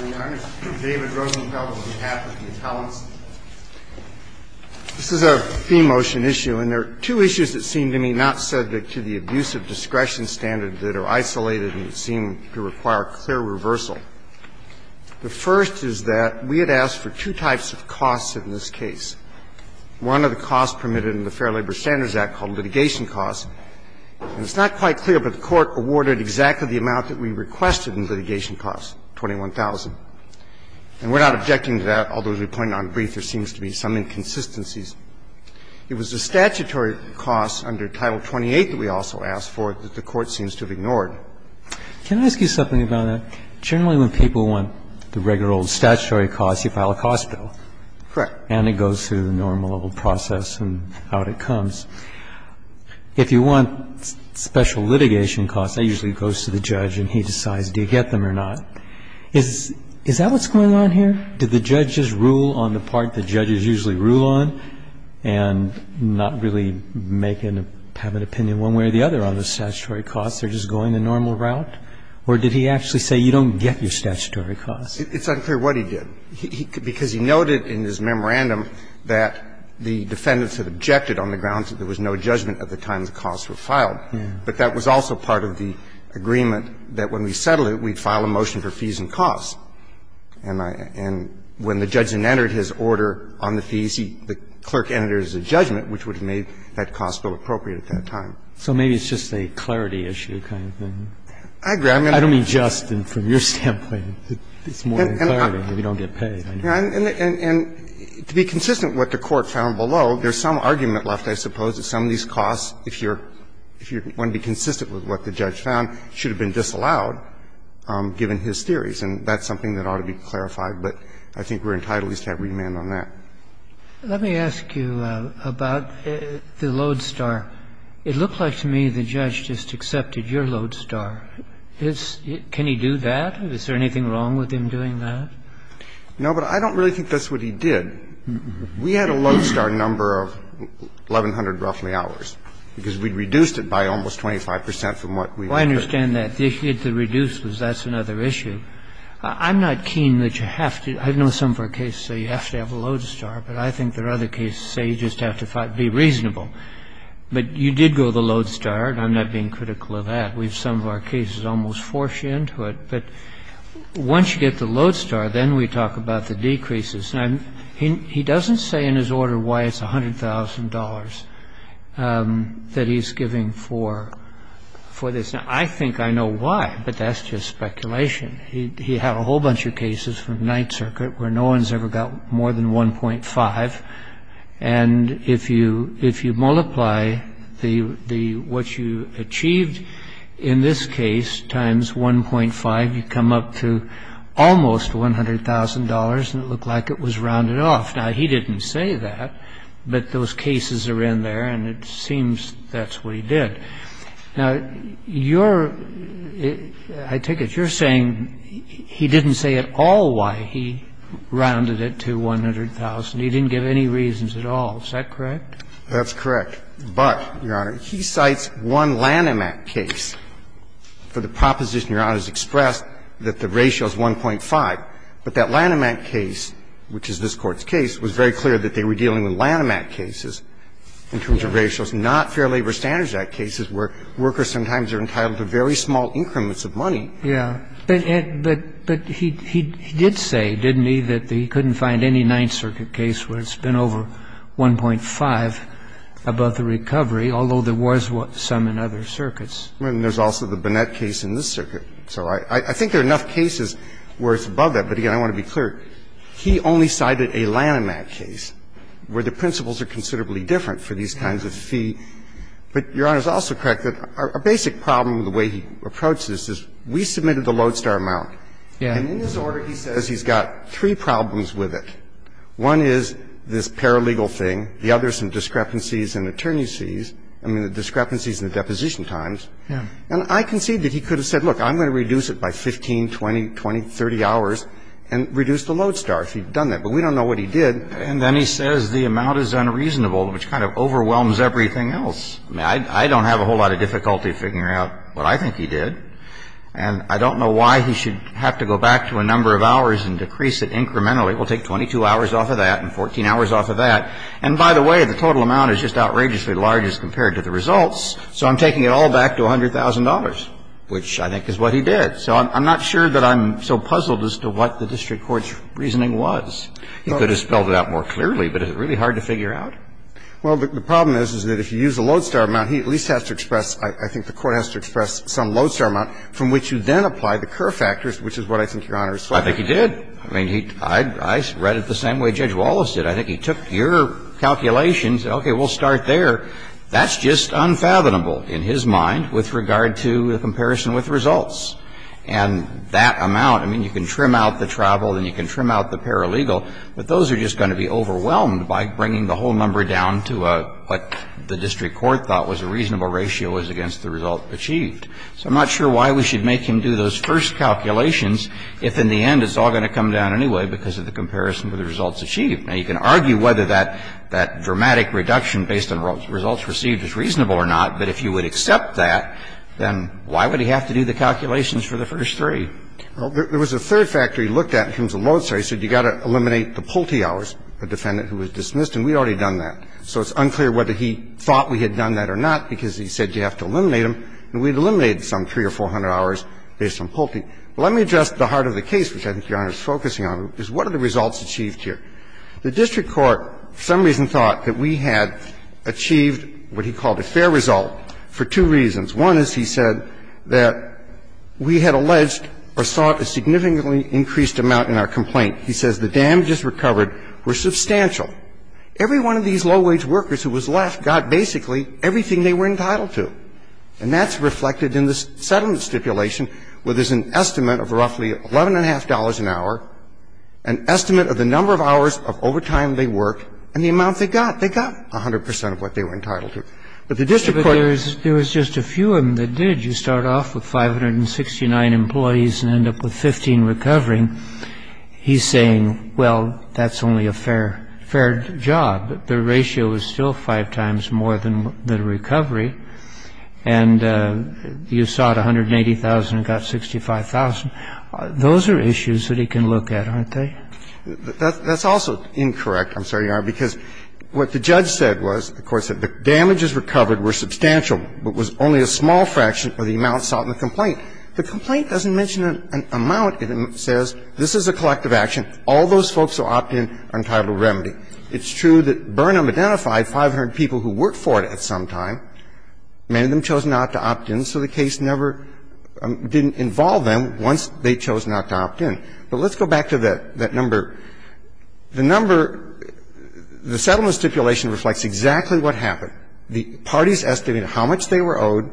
This is a theme motion issue, and there are two issues that seem to me not subject to the abuse of discretion standard that are isolated and seem to require clear reversal. The first is that we had asked for two types of costs in this case. One of the costs permitted in the Fair Labor Standards Act called litigation costs. And it's not quite clear, but the And we're not objecting to that, although, as we pointed out in brief, there seems to be some inconsistencies. It was the statutory costs under Title 28 that we also asked for that the Court seems to have ignored. Can I ask you something about that? Generally, when people want the regular old statutory costs, you file a cost bill. Correct. And it goes through the normal old process and out it comes. If you want special litigation costs, that usually goes to the judge and he decides do you get them or not. Is that what's going on here? Do the judges rule on the part the judges usually rule on and not really make an opinion one way or the other on the statutory costs? They're just going the normal route? Or did he actually say you don't get your statutory costs? It's unclear what he did. Because he noted in his memorandum that the defendants had objected on the grounds that there was no judgment at the time the costs were filed. But that was also part of the agreement that when we settled it, we'd file a motion for fees and costs. And when the judge had entered his order on the fees, the clerk entered it as a judgment, which would have made that cost bill appropriate at that time. So maybe it's just a clarity issue kind of thing. I agree. I don't mean just from your standpoint. It's more than clarity. We don't get paid. And to be consistent with what the Court found below, there's some argument left, I suppose, that some of these costs, if you're going to be consistent with what the judge found, should have been disallowed given his theories. And that's something that ought to be clarified. But I think we're entitled at least to have remand on that. Let me ask you about the Lodestar. It looked like to me the judge just accepted your Lodestar. Can he do that? Is there anything wrong with him doing that? No, but I don't really think that's what he did. We had a Lodestar number of 1,100, roughly, hours, because we reduced it by almost 25 percent from what we've incurred. Well, I understand that. The issue with the reduced was that's another issue. I'm not keen that you have to – I know some of our cases say you have to have a Lodestar, but I think there are other cases that say you just have to be reasonable. But you did go with a Lodestar, and I'm not being critical of that. Some of our cases almost force you into it. But once you get the Lodestar, then we talk about the decreases. And he doesn't say in his order why it's $100,000 that he's giving for this. Now, I think I know why, but that's just speculation. He had a whole bunch of cases from Ninth Circuit where no one's ever got more than 1.5. And if you multiply what you achieved in this case times 1.5, you come up to almost $100,000, and it looked like it was rounded off. Now, he didn't say that, but those cases are in there, and it seems that's what he did. Now, I take it you're saying he didn't say at all why he rounded it to $100,000. He didn't give any reasons at all. Is that correct? That's correct. But, Your Honor, he cites one Lanham Act case for the proposition, Your Honor, has expressed that the ratio is 1.5. But that Lanham Act case, which is this Court's case, was very clear that they were dealing with Lanham Act cases in terms of ratios, not Fair Labor Standards Act cases where workers sometimes are entitled to very small increments of money. So he didn't say that, but he did say, didn't he, that he couldn't find any Ninth Circuit case where it's been over 1.5 above the recovery, although there was some in other circuits. And there's also the Bonnet case in this circuit. So I think there are enough cases where it's above that, but, again, I want to be clear. He only cited a Lanham Act case where the principles are considerably different for these kinds of fee. But, Your Honor, it's also correct that a basic problem with the way he approached this is we submitted the Lodestar amount, and in this order he says he's got three problems with it. One is this paralegal thing. The other is some discrepancies in attorneys' fees, I mean, the discrepancies in the deposition times. And I concede that he could have said, look, I'm going to reduce it by 15, 20, 20, 30 hours and reduce the Lodestar if he'd done that. But we don't know what he did. And then he says the amount is unreasonable, which kind of overwhelms everything else. I mean, I don't have a whole lot of difficulty figuring out what I think he did. And I don't know why he should have to go back to a number of hours and decrease it incrementally. We'll take 22 hours off of that and 14 hours off of that. And, by the way, the total amount is just outrageously large as compared to the results. So I'm taking it all back to $100,000, which I think is what he did. So I'm not sure that I'm so puzzled as to what the district court's reasoning was. He could have spelled it out more clearly, but it's really hard to figure out. Well, the problem is, is that if you use a Lodestar amount, he at least has to express – I think the Court has to express some Lodestar amount from which you then apply the Kerr factors, which is what I think Your Honor is flattering. I think he did. I mean, I read it the same way Judge Wallace did. I think he took your calculations and said, okay, we'll start there. That's just unfathomable in his mind with regard to the comparison with results. And that amount – I mean, you can trim out the travel and you can trim out the paralegal. But those are just going to be overwhelmed by bringing the whole number down to what the district court thought was a reasonable ratio as against the result achieved. So I'm not sure why we should make him do those first calculations if in the end it's all going to come down anyway because of the comparison with the results achieved. Now, you can argue whether that dramatic reduction based on results received is reasonable or not, but if you would accept that, then why would he have to do the calculations for the first three? Well, there was a third factor he looked at in terms of Lodestar. He said you've got to eliminate the Pulte hours, the defendant who was dismissed, and we'd already done that. So it's unclear whether he thought we had done that or not because he said you have to eliminate them, and we'd eliminated some 300 or 400 hours based on Pulte. Let me address the heart of the case, which I think Your Honor is focusing on, is what are the results achieved here? The district court for some reason thought that we had achieved what he called a fair result for two reasons. One is he said that we had alleged or sought a significantly increased amount in our Pulte hours. And he said that we had achieved a substantial amount in our Pulte hours. Now, there's another complaint. He says the damages recovered were substantial. Every one of these low-wage workers who was left got basically everything they were entitled to, and that's reflected in the settlement stipulation where there's an estimate of roughly $11.50 an hour, an estimate of the number of hours of overtime they worked, and he's saying, well, that's only a fair job. The ratio is still five times more than the recovery, and you sought 180,000 and got 65,000. Those are issues that he can look at, aren't they? That's also incorrect. I'm sorry, Your Honor, because what the judge said was, of course, that the damages recovered were substantial, but was only a small fraction of the amount sought in the complaint. The complaint doesn't mention an amount. It says this is a collective action. All those folks will opt in on title of remedy. It's true that Burnham identified 500 people who worked for it at some time. Many of them chose not to opt in, so the case never didn't involve them once they chose not to opt in. But let's go back to that number. The number the settlement stipulation reflects exactly what happened. The parties estimated how much they were owed,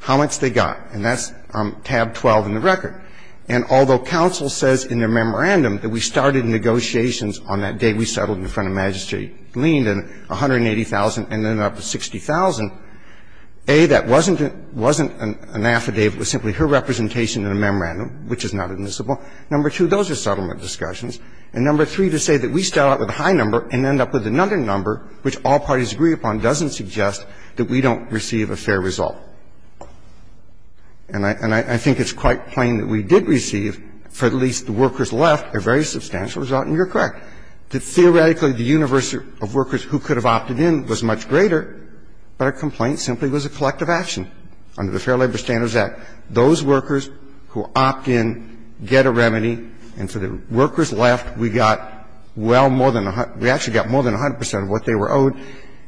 how much they got. And that's tab 12 in the record. And although counsel says in their memorandum that we started negotiations on that day we settled in front of Magistrate Leen and 180,000 and ended up with 60,000, A, that wasn't an affidavit. It was simply her representation in a memorandum, which is not admissible. Number two, those are settlement discussions. And number three, to say that we start out with a high number and end up with another number, which all parties agree upon, doesn't suggest that we don't receive a fair result. And I think it's quite plain that we did receive, for at least the workers left, a very substantial result, and you're correct. Theoretically, the universe of workers who could have opted in was much greater, but a complaint simply was a collective action under the Fair Labor Standards Act. Those workers who opt in get a remedy, and for the workers left, we got well more than a hundred we actually got more than 100 percent of what they were owed.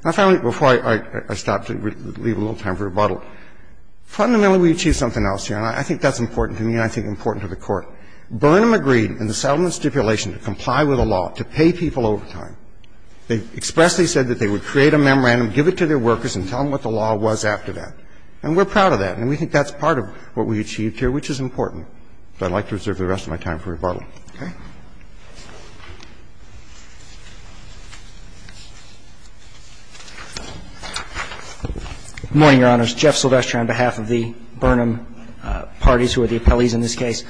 And finally, before I stop to leave a little time for rebuttal, fundamentally we achieved something else here, and I think that's important to me and I think important to the Court. Burnham agreed in the settlement stipulation to comply with the law, to pay people over time. They expressly said that they would create a memorandum, give it to their workers and tell them what the law was after that. And we're proud of that, and we think that's part of what we achieved here, which is important. But I'd like to reserve the rest of my time for rebuttal. Okay. Good morning, Your Honors. Jeff Silvestre on behalf of the Burnham parties who are the appellees in this case.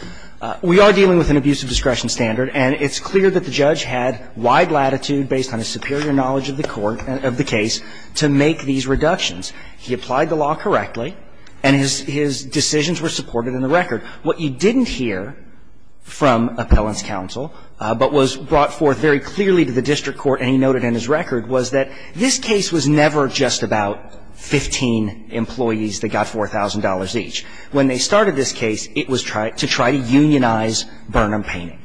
We are dealing with an abusive discretion standard, and it's clear that the judge had wide latitude based on his superior knowledge of the court and of the case to make these reductions. He applied the law correctly, and his decisions were supported in the record. What you didn't hear from appellant's counsel, but was brought forth very clearly to the district court, and he noted in his record, was that this case was never just about 15 employees that got $4,000 each. When they started this case, it was to try to unionize Burnham Painting.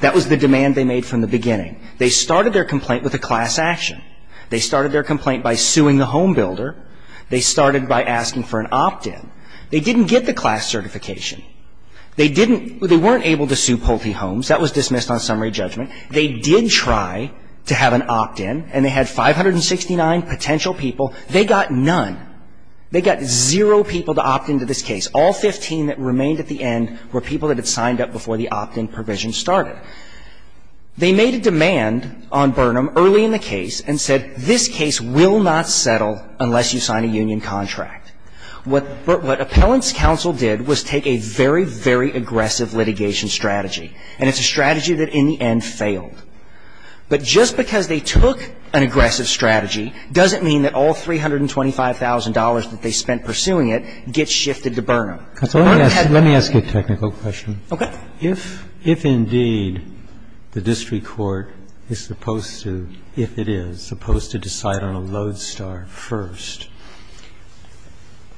That was the demand they made from the beginning. They started their complaint with a class action. They started their complaint by suing the home builder. They started by asking for an opt-in. They didn't get the class certification. They didn't, they weren't able to sue Pulte Homes. That was dismissed on summary judgment. They did try to have an opt-in, and they had 569 potential people. They got none. They got zero people to opt into this case. All 15 that remained at the end were people that had signed up before the opt-in provision started. They made a demand on Burnham early in the case and said, this case will not settle unless you sign a union contract. What Appellant's counsel did was take a very, very aggressive litigation strategy. And it's a strategy that, in the end, failed. But just because they took an aggressive strategy doesn't mean that all $325,000 that they spent pursuing it gets shifted to Burnham. They want to have a union contract. Roberts. Let me ask you a technical question. Okay. If indeed the district court is supposed to, if it is, supposed to decide on a Lodestar first,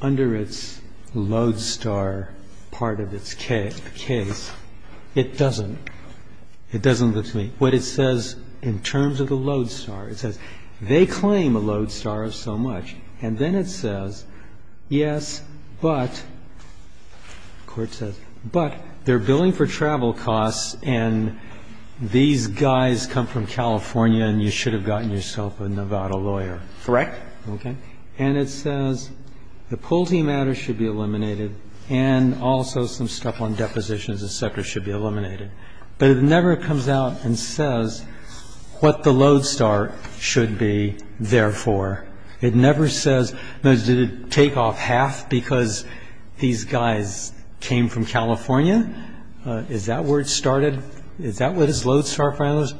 under its Lodestar part of its case, it doesn't. It doesn't look to me. What it says in terms of the Lodestar, it says they claim a Lodestar of so much. And then it says, yes, but, the court says, but they're billing for travel costs and these guys come from California and you should have gotten yourself a Nevada lawyer. Correct. Okay. And it says the Pulte matter should be eliminated and also some stuff on depositions and sectors should be eliminated. But it never comes out and says what the Lodestar should be there for. It never says, did it take off half because these guys came from California? Is that where it started? Is that what is Lodestar,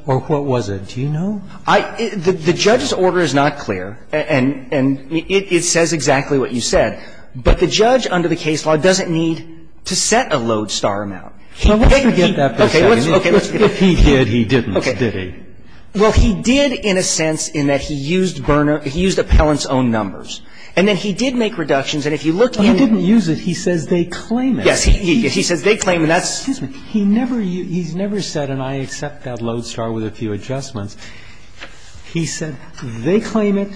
or what was it? Do you know? The judge's order is not clear and it says exactly what you said. But the judge under the case law doesn't need to set a Lodestar amount. Okay. Let's forget that for a second. If he did, he didn't, did he? Well, he did in a sense in that he used burner, he used appellant's own numbers. And then he did make reductions and if you look at it. He didn't use it. He says they claim it. Yes. He says they claim it. Excuse me. He never, he's never said and I accept that Lodestar with a few adjustments. He said they claim it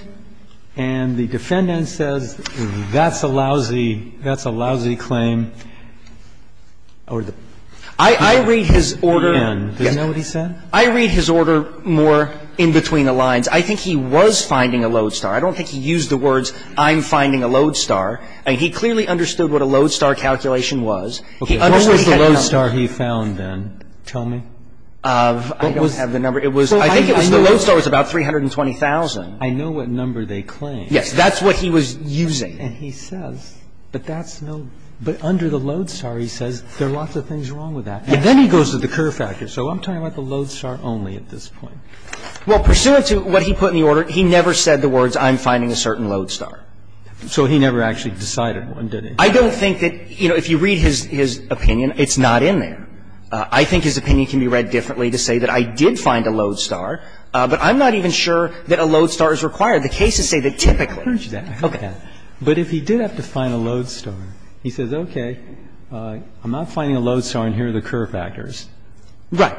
and the defendant says that's a lousy, that's a lousy claim. I read his order. Again, is that what he said? I read his order more in between the lines. I think he was finding a Lodestar. I don't think he used the words, I'm finding a Lodestar. He clearly understood what a Lodestar calculation was. He understood he had a number. What was the Lodestar he found then? Tell me. I don't have the number. It was, I think it was, the Lodestar was about 320,000. I know what number they claim. Yes. That's what he was using. And he says, but that's no, but under the Lodestar, he says there are lots of things wrong with that and then he goes to the Kerr factor. So I'm talking about the Lodestar only at this point. Well, pursuant to what he put in the order, he never said the words, I'm finding a certain Lodestar. So he never actually decided one, did he? I don't think that, you know, if you read his opinion, it's not in there. I think his opinion can be read differently to say that I did find a Lodestar, but I'm not even sure that a Lodestar is required. The cases say that typically. Okay. But if he did have to find a Lodestar, he says, okay, I'm not finding a Lodestar and here are the Kerr factors. Right.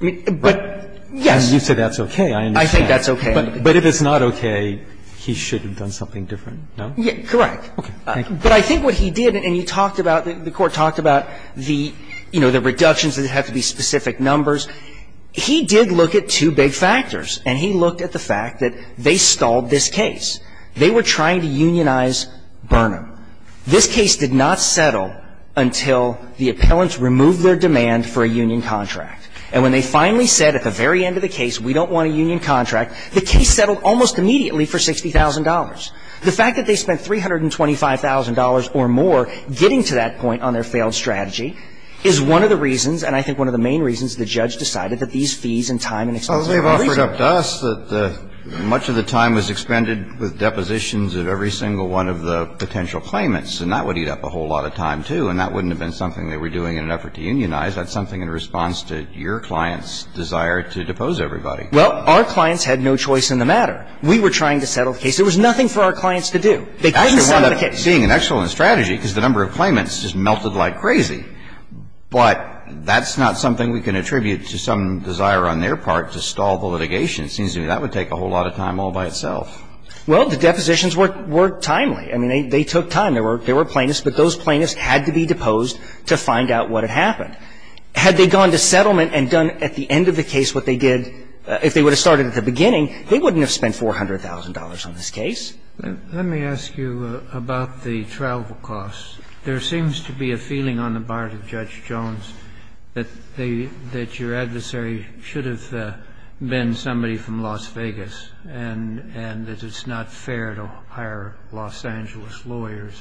But, yes. And you say that's okay. I understand. I think that's okay. But if it's not okay, he should have done something different, no? Correct. Okay. Thank you. But I think what he did, and you talked about, the Court talked about the, you know, the reductions that have to be specific numbers. He did look at two big factors, and he looked at the fact that they stalled this case. They were trying to unionize Burnham. This case did not settle until the appellants removed their demand for a union contract. And when they finally said at the very end of the case, we don't want a union contract, the case settled almost immediately for $60,000. The fact that they spent $325,000 or more getting to that point on their failed strategy is one of the reasons, and I think one of the main reasons, the judge decided that these fees and time and expense were a reason. Well, they've offered up to us that much of the time was expended with depositions of every single one of the potential claimants, and that would eat up a whole lot of time, too. And that wouldn't have been something they were doing in an effort to unionize. That's something in response to your client's desire to depose everybody. Well, our clients had no choice in the matter. We were trying to settle the case. There was nothing for our clients to do. They couldn't settle the case. Actually, one of the things, seeing an excellent strategy, because the number of claimants just melted like crazy, but that's not something we can attribute to some desire on their part to stall the litigation. It seems to me that would take a whole lot of time all by itself. Well, the depositions were timely. I mean, they took time. There were plaintiffs, but those plaintiffs had to be deposed to find out what had happened. Had they gone to settlement and done at the end of the case what they did, if they would have started at the beginning, they wouldn't have spent $400,000 on this case. Let me ask you about the travel costs. There seems to be a feeling on the part of Judge Jones that they – that your adversary should have been somebody from Las Vegas, and that it's not fair to hire Los Angeles lawyers.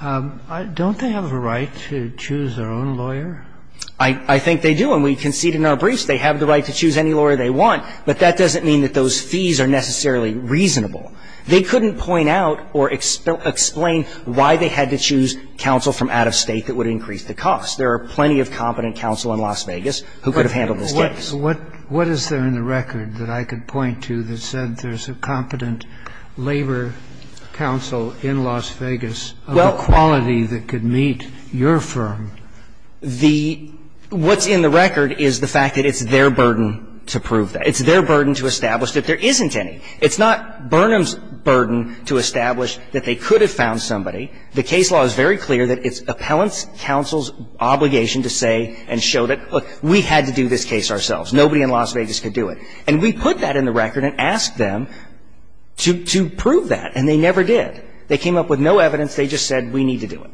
Don't they have a right to choose their own lawyer? I think they do, and we concede in our briefs they have the right to choose any lawyer they want, but that doesn't mean that those fees are necessarily reasonable. They couldn't point out or explain why they had to choose counsel from out of State that would increase the cost. There are plenty of competent counsel in Las Vegas who could have handled this case. What is there in the record that I could point to that said there's a competent labor counsel in Las Vegas of the quality that could meet your firm? The – what's in the record is the fact that it's their burden to prove that. It's their burden to establish that there isn't any. It's not Burnham's burden to establish that they could have found somebody. The case law is very clear that it's appellants' counsel's obligation to say and show that, look, we had to do this case ourselves. Nobody in Las Vegas could do it. And we put that in the record and asked them to prove that, and they never did. They came up with no evidence. They just said we need to do it.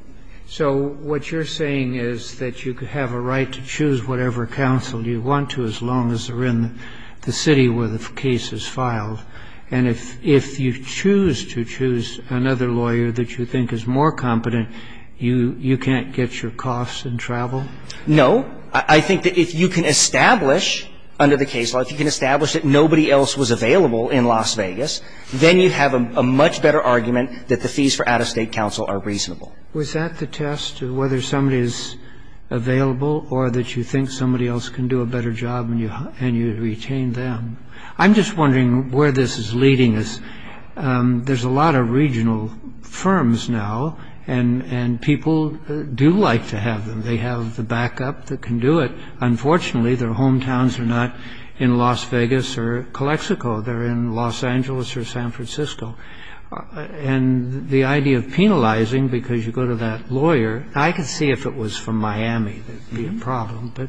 So what you're saying is that you have a right to choose whatever counsel you want to as long as they're in the city where the case is filed, and if you choose to choose another lawyer that you think is more competent, you can't get your costs in travel? No. I think that if you can establish under the case law, if you can establish that nobody else was available in Las Vegas, then you have a much better argument that the fees for out-of-State counsel are reasonable. Was that to test whether somebody is available or that you think somebody else can do a better job and you retain them? I'm just wondering where this is leading us. There's a lot of regional firms now, and people do like to have them. They have the backup that can do it. Unfortunately, their hometowns are not in Las Vegas or Calexico. They're in Los Angeles or San Francisco. And the idea of penalizing, because you go to that lawyer, I could see if it was from Miami, that would be a problem, but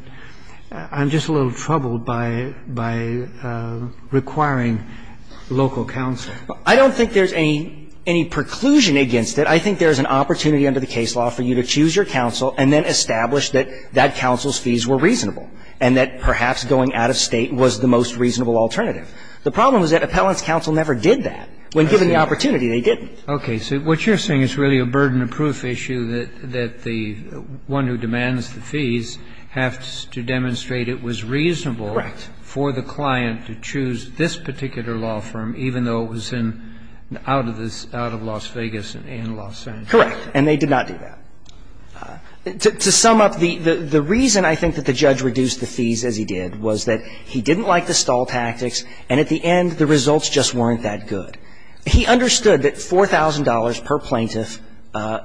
I'm just a little troubled by requiring local counsel. I don't think there's any preclusion against it. I think there's an opportunity under the case law for you to choose your counsel and then establish that that counsel's fees were reasonable, and that perhaps going out-of-State was the most reasonable alternative. The problem is that appellant's counsel never did that. When given the opportunity, they didn't. Okay. So what you're saying is really a burden of proof issue that the one who demands the fees has to demonstrate it was reasonable for the client to choose this particular law firm, even though it was in the out of the Las Vegas and in Los Angeles. Correct. And they did not do that. To sum up, the reason I think that the judge reduced the fees as he did was that he didn't like the stall tactics, and at the end, the results just weren't that good. He understood that $4,000 per plaintiff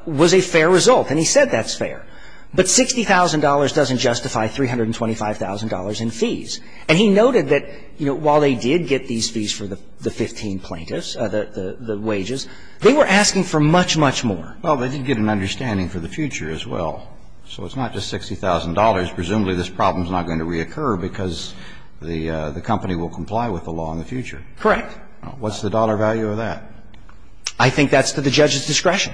was a fair result, and he said that's fair. But $60,000 doesn't justify $325,000 in fees. And he noted that, you know, while they did get these fees for the 15 plaintiffs, the wages, they were asking for much, much more. Well, they did get an understanding for the future as well. So it's not just $60,000. Presumably, this problem is not going to reoccur because the company will comply with the law in the future. Correct. What's the dollar value of that? I think that's to the judge's discretion.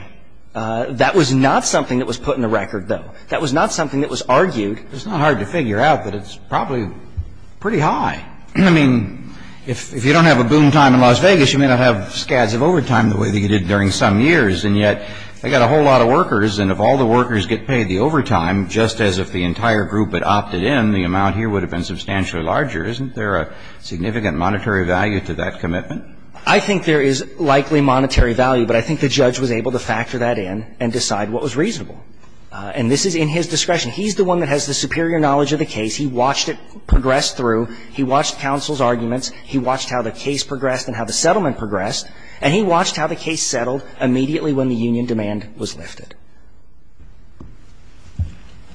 That was not something that was put in the record, though. That was not something that was argued. It's not hard to figure out, but it's probably pretty high. I mean, if you don't have a boom time in Las Vegas, you may not have scads of overtime the way that you did during some years. And yet, they got a whole lot of workers, and if all the workers get paid the overtime, just as if the entire group had opted in, the amount here would have been substantially larger. Isn't there a significant monetary value to that commitment? I think there is likely monetary value, but I think the judge was able to factor that in and decide what was reasonable. And this is in his discretion. He's the one that has the superior knowledge of the case. He watched it progress through. He watched counsel's arguments. He watched how the case progressed and how the settlement progressed. And he watched how the case settled immediately when the union demand was lifted.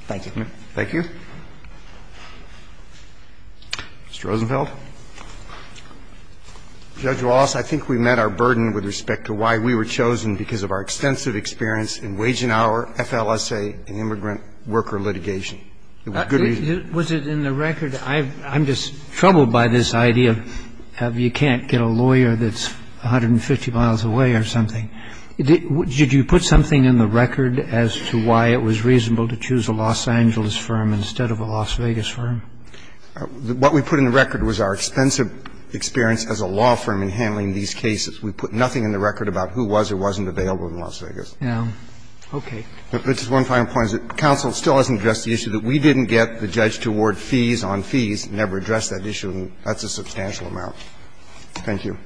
Thank you. Thank you. Mr. Rosenfeld. Judge Wallace, I think we met our burden with respect to why we were chosen because of our extensive experience in wage and hour, FLSA, and immigrant worker litigation. Was it in the record? I'm just troubled by this idea of you can't get a lawyer that's 150 miles away or something. Did you put something in the record as to why it was reasonable to choose a Los Angeles firm instead of a Las Vegas firm? What we put in the record was our extensive experience as a law firm in handling these cases. We put nothing in the record about who was or wasn't available in Las Vegas. Okay. But just one final point is that counsel still hasn't addressed the issue that we didn't get the judge to award fees on fees, never addressed that issue, and that's a substantial amount. Thank you.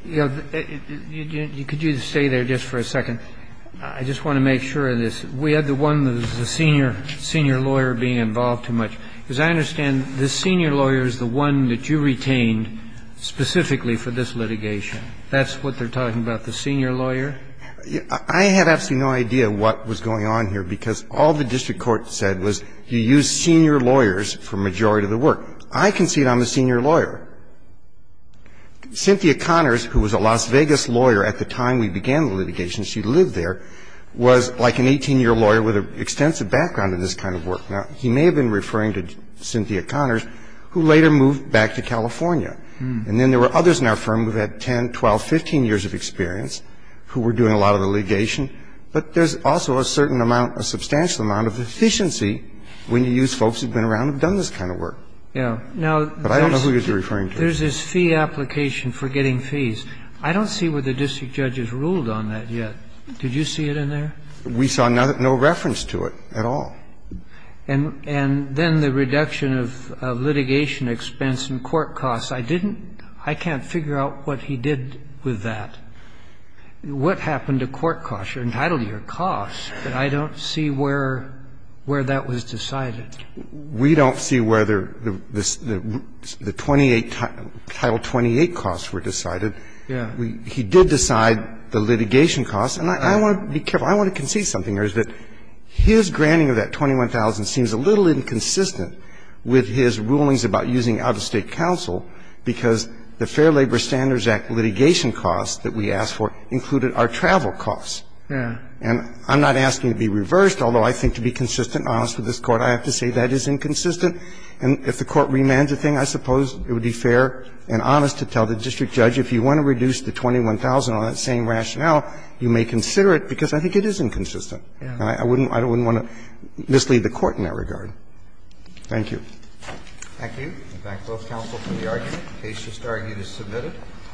Could you stay there just for a second? I just want to make sure of this. We had the one, the senior lawyer being involved too much. As I understand, the senior lawyer is the one that you retained specifically for this litigation. That's what they're talking about, the senior lawyer? I had absolutely no idea what was going on here because all the district court said was you use senior lawyers for the majority of the work. I concede I'm the senior lawyer. Cynthia Connors, who was a Las Vegas lawyer at the time we began the litigation, she lived there, was like an 18-year lawyer with an extensive background in this kind of work. Now, he may have been referring to Cynthia Connors, who later moved back to California. And then there were others in our firm who had 10, 12, 15 years of experience who were doing a lot of the litigation. But there's also a certain amount, a substantial amount of efficiency when you use folks who have been around and have done this kind of work. But I don't know who you're referring to. There's this fee application for getting fees. I don't see where the district judge has ruled on that yet. Did you see it in there? We saw no reference to it at all. And then the reduction of litigation expense and court costs. I didn't – I can't figure out what he did with that. What happened to court costs? You're entitled to your costs, but I don't see where that was decided. We don't see whether the 28 – Title 28 costs were decided. He did decide the litigation costs. And I want to be careful. I want to concede something, yours, that his granting of that $21,000 seems a little inconsistent with his rulings about using out-of-state counsel because the Fair Labor Standards Act litigation costs that we asked for included our travel costs. Yeah. And I'm not asking to be reversed, although I think to be consistent and honest with this Court, I have to say that is inconsistent. And if the Court remands a thing, I suppose it would be fair and honest to tell the district judge, if you want to reduce the $21,000 on that same rationale, you may consider it, because I think it is inconsistent. And I wouldn't want to mislead the Court in that regard. Thank you. Thank you. We thank both counsel for the argument. The case just argued is submitted.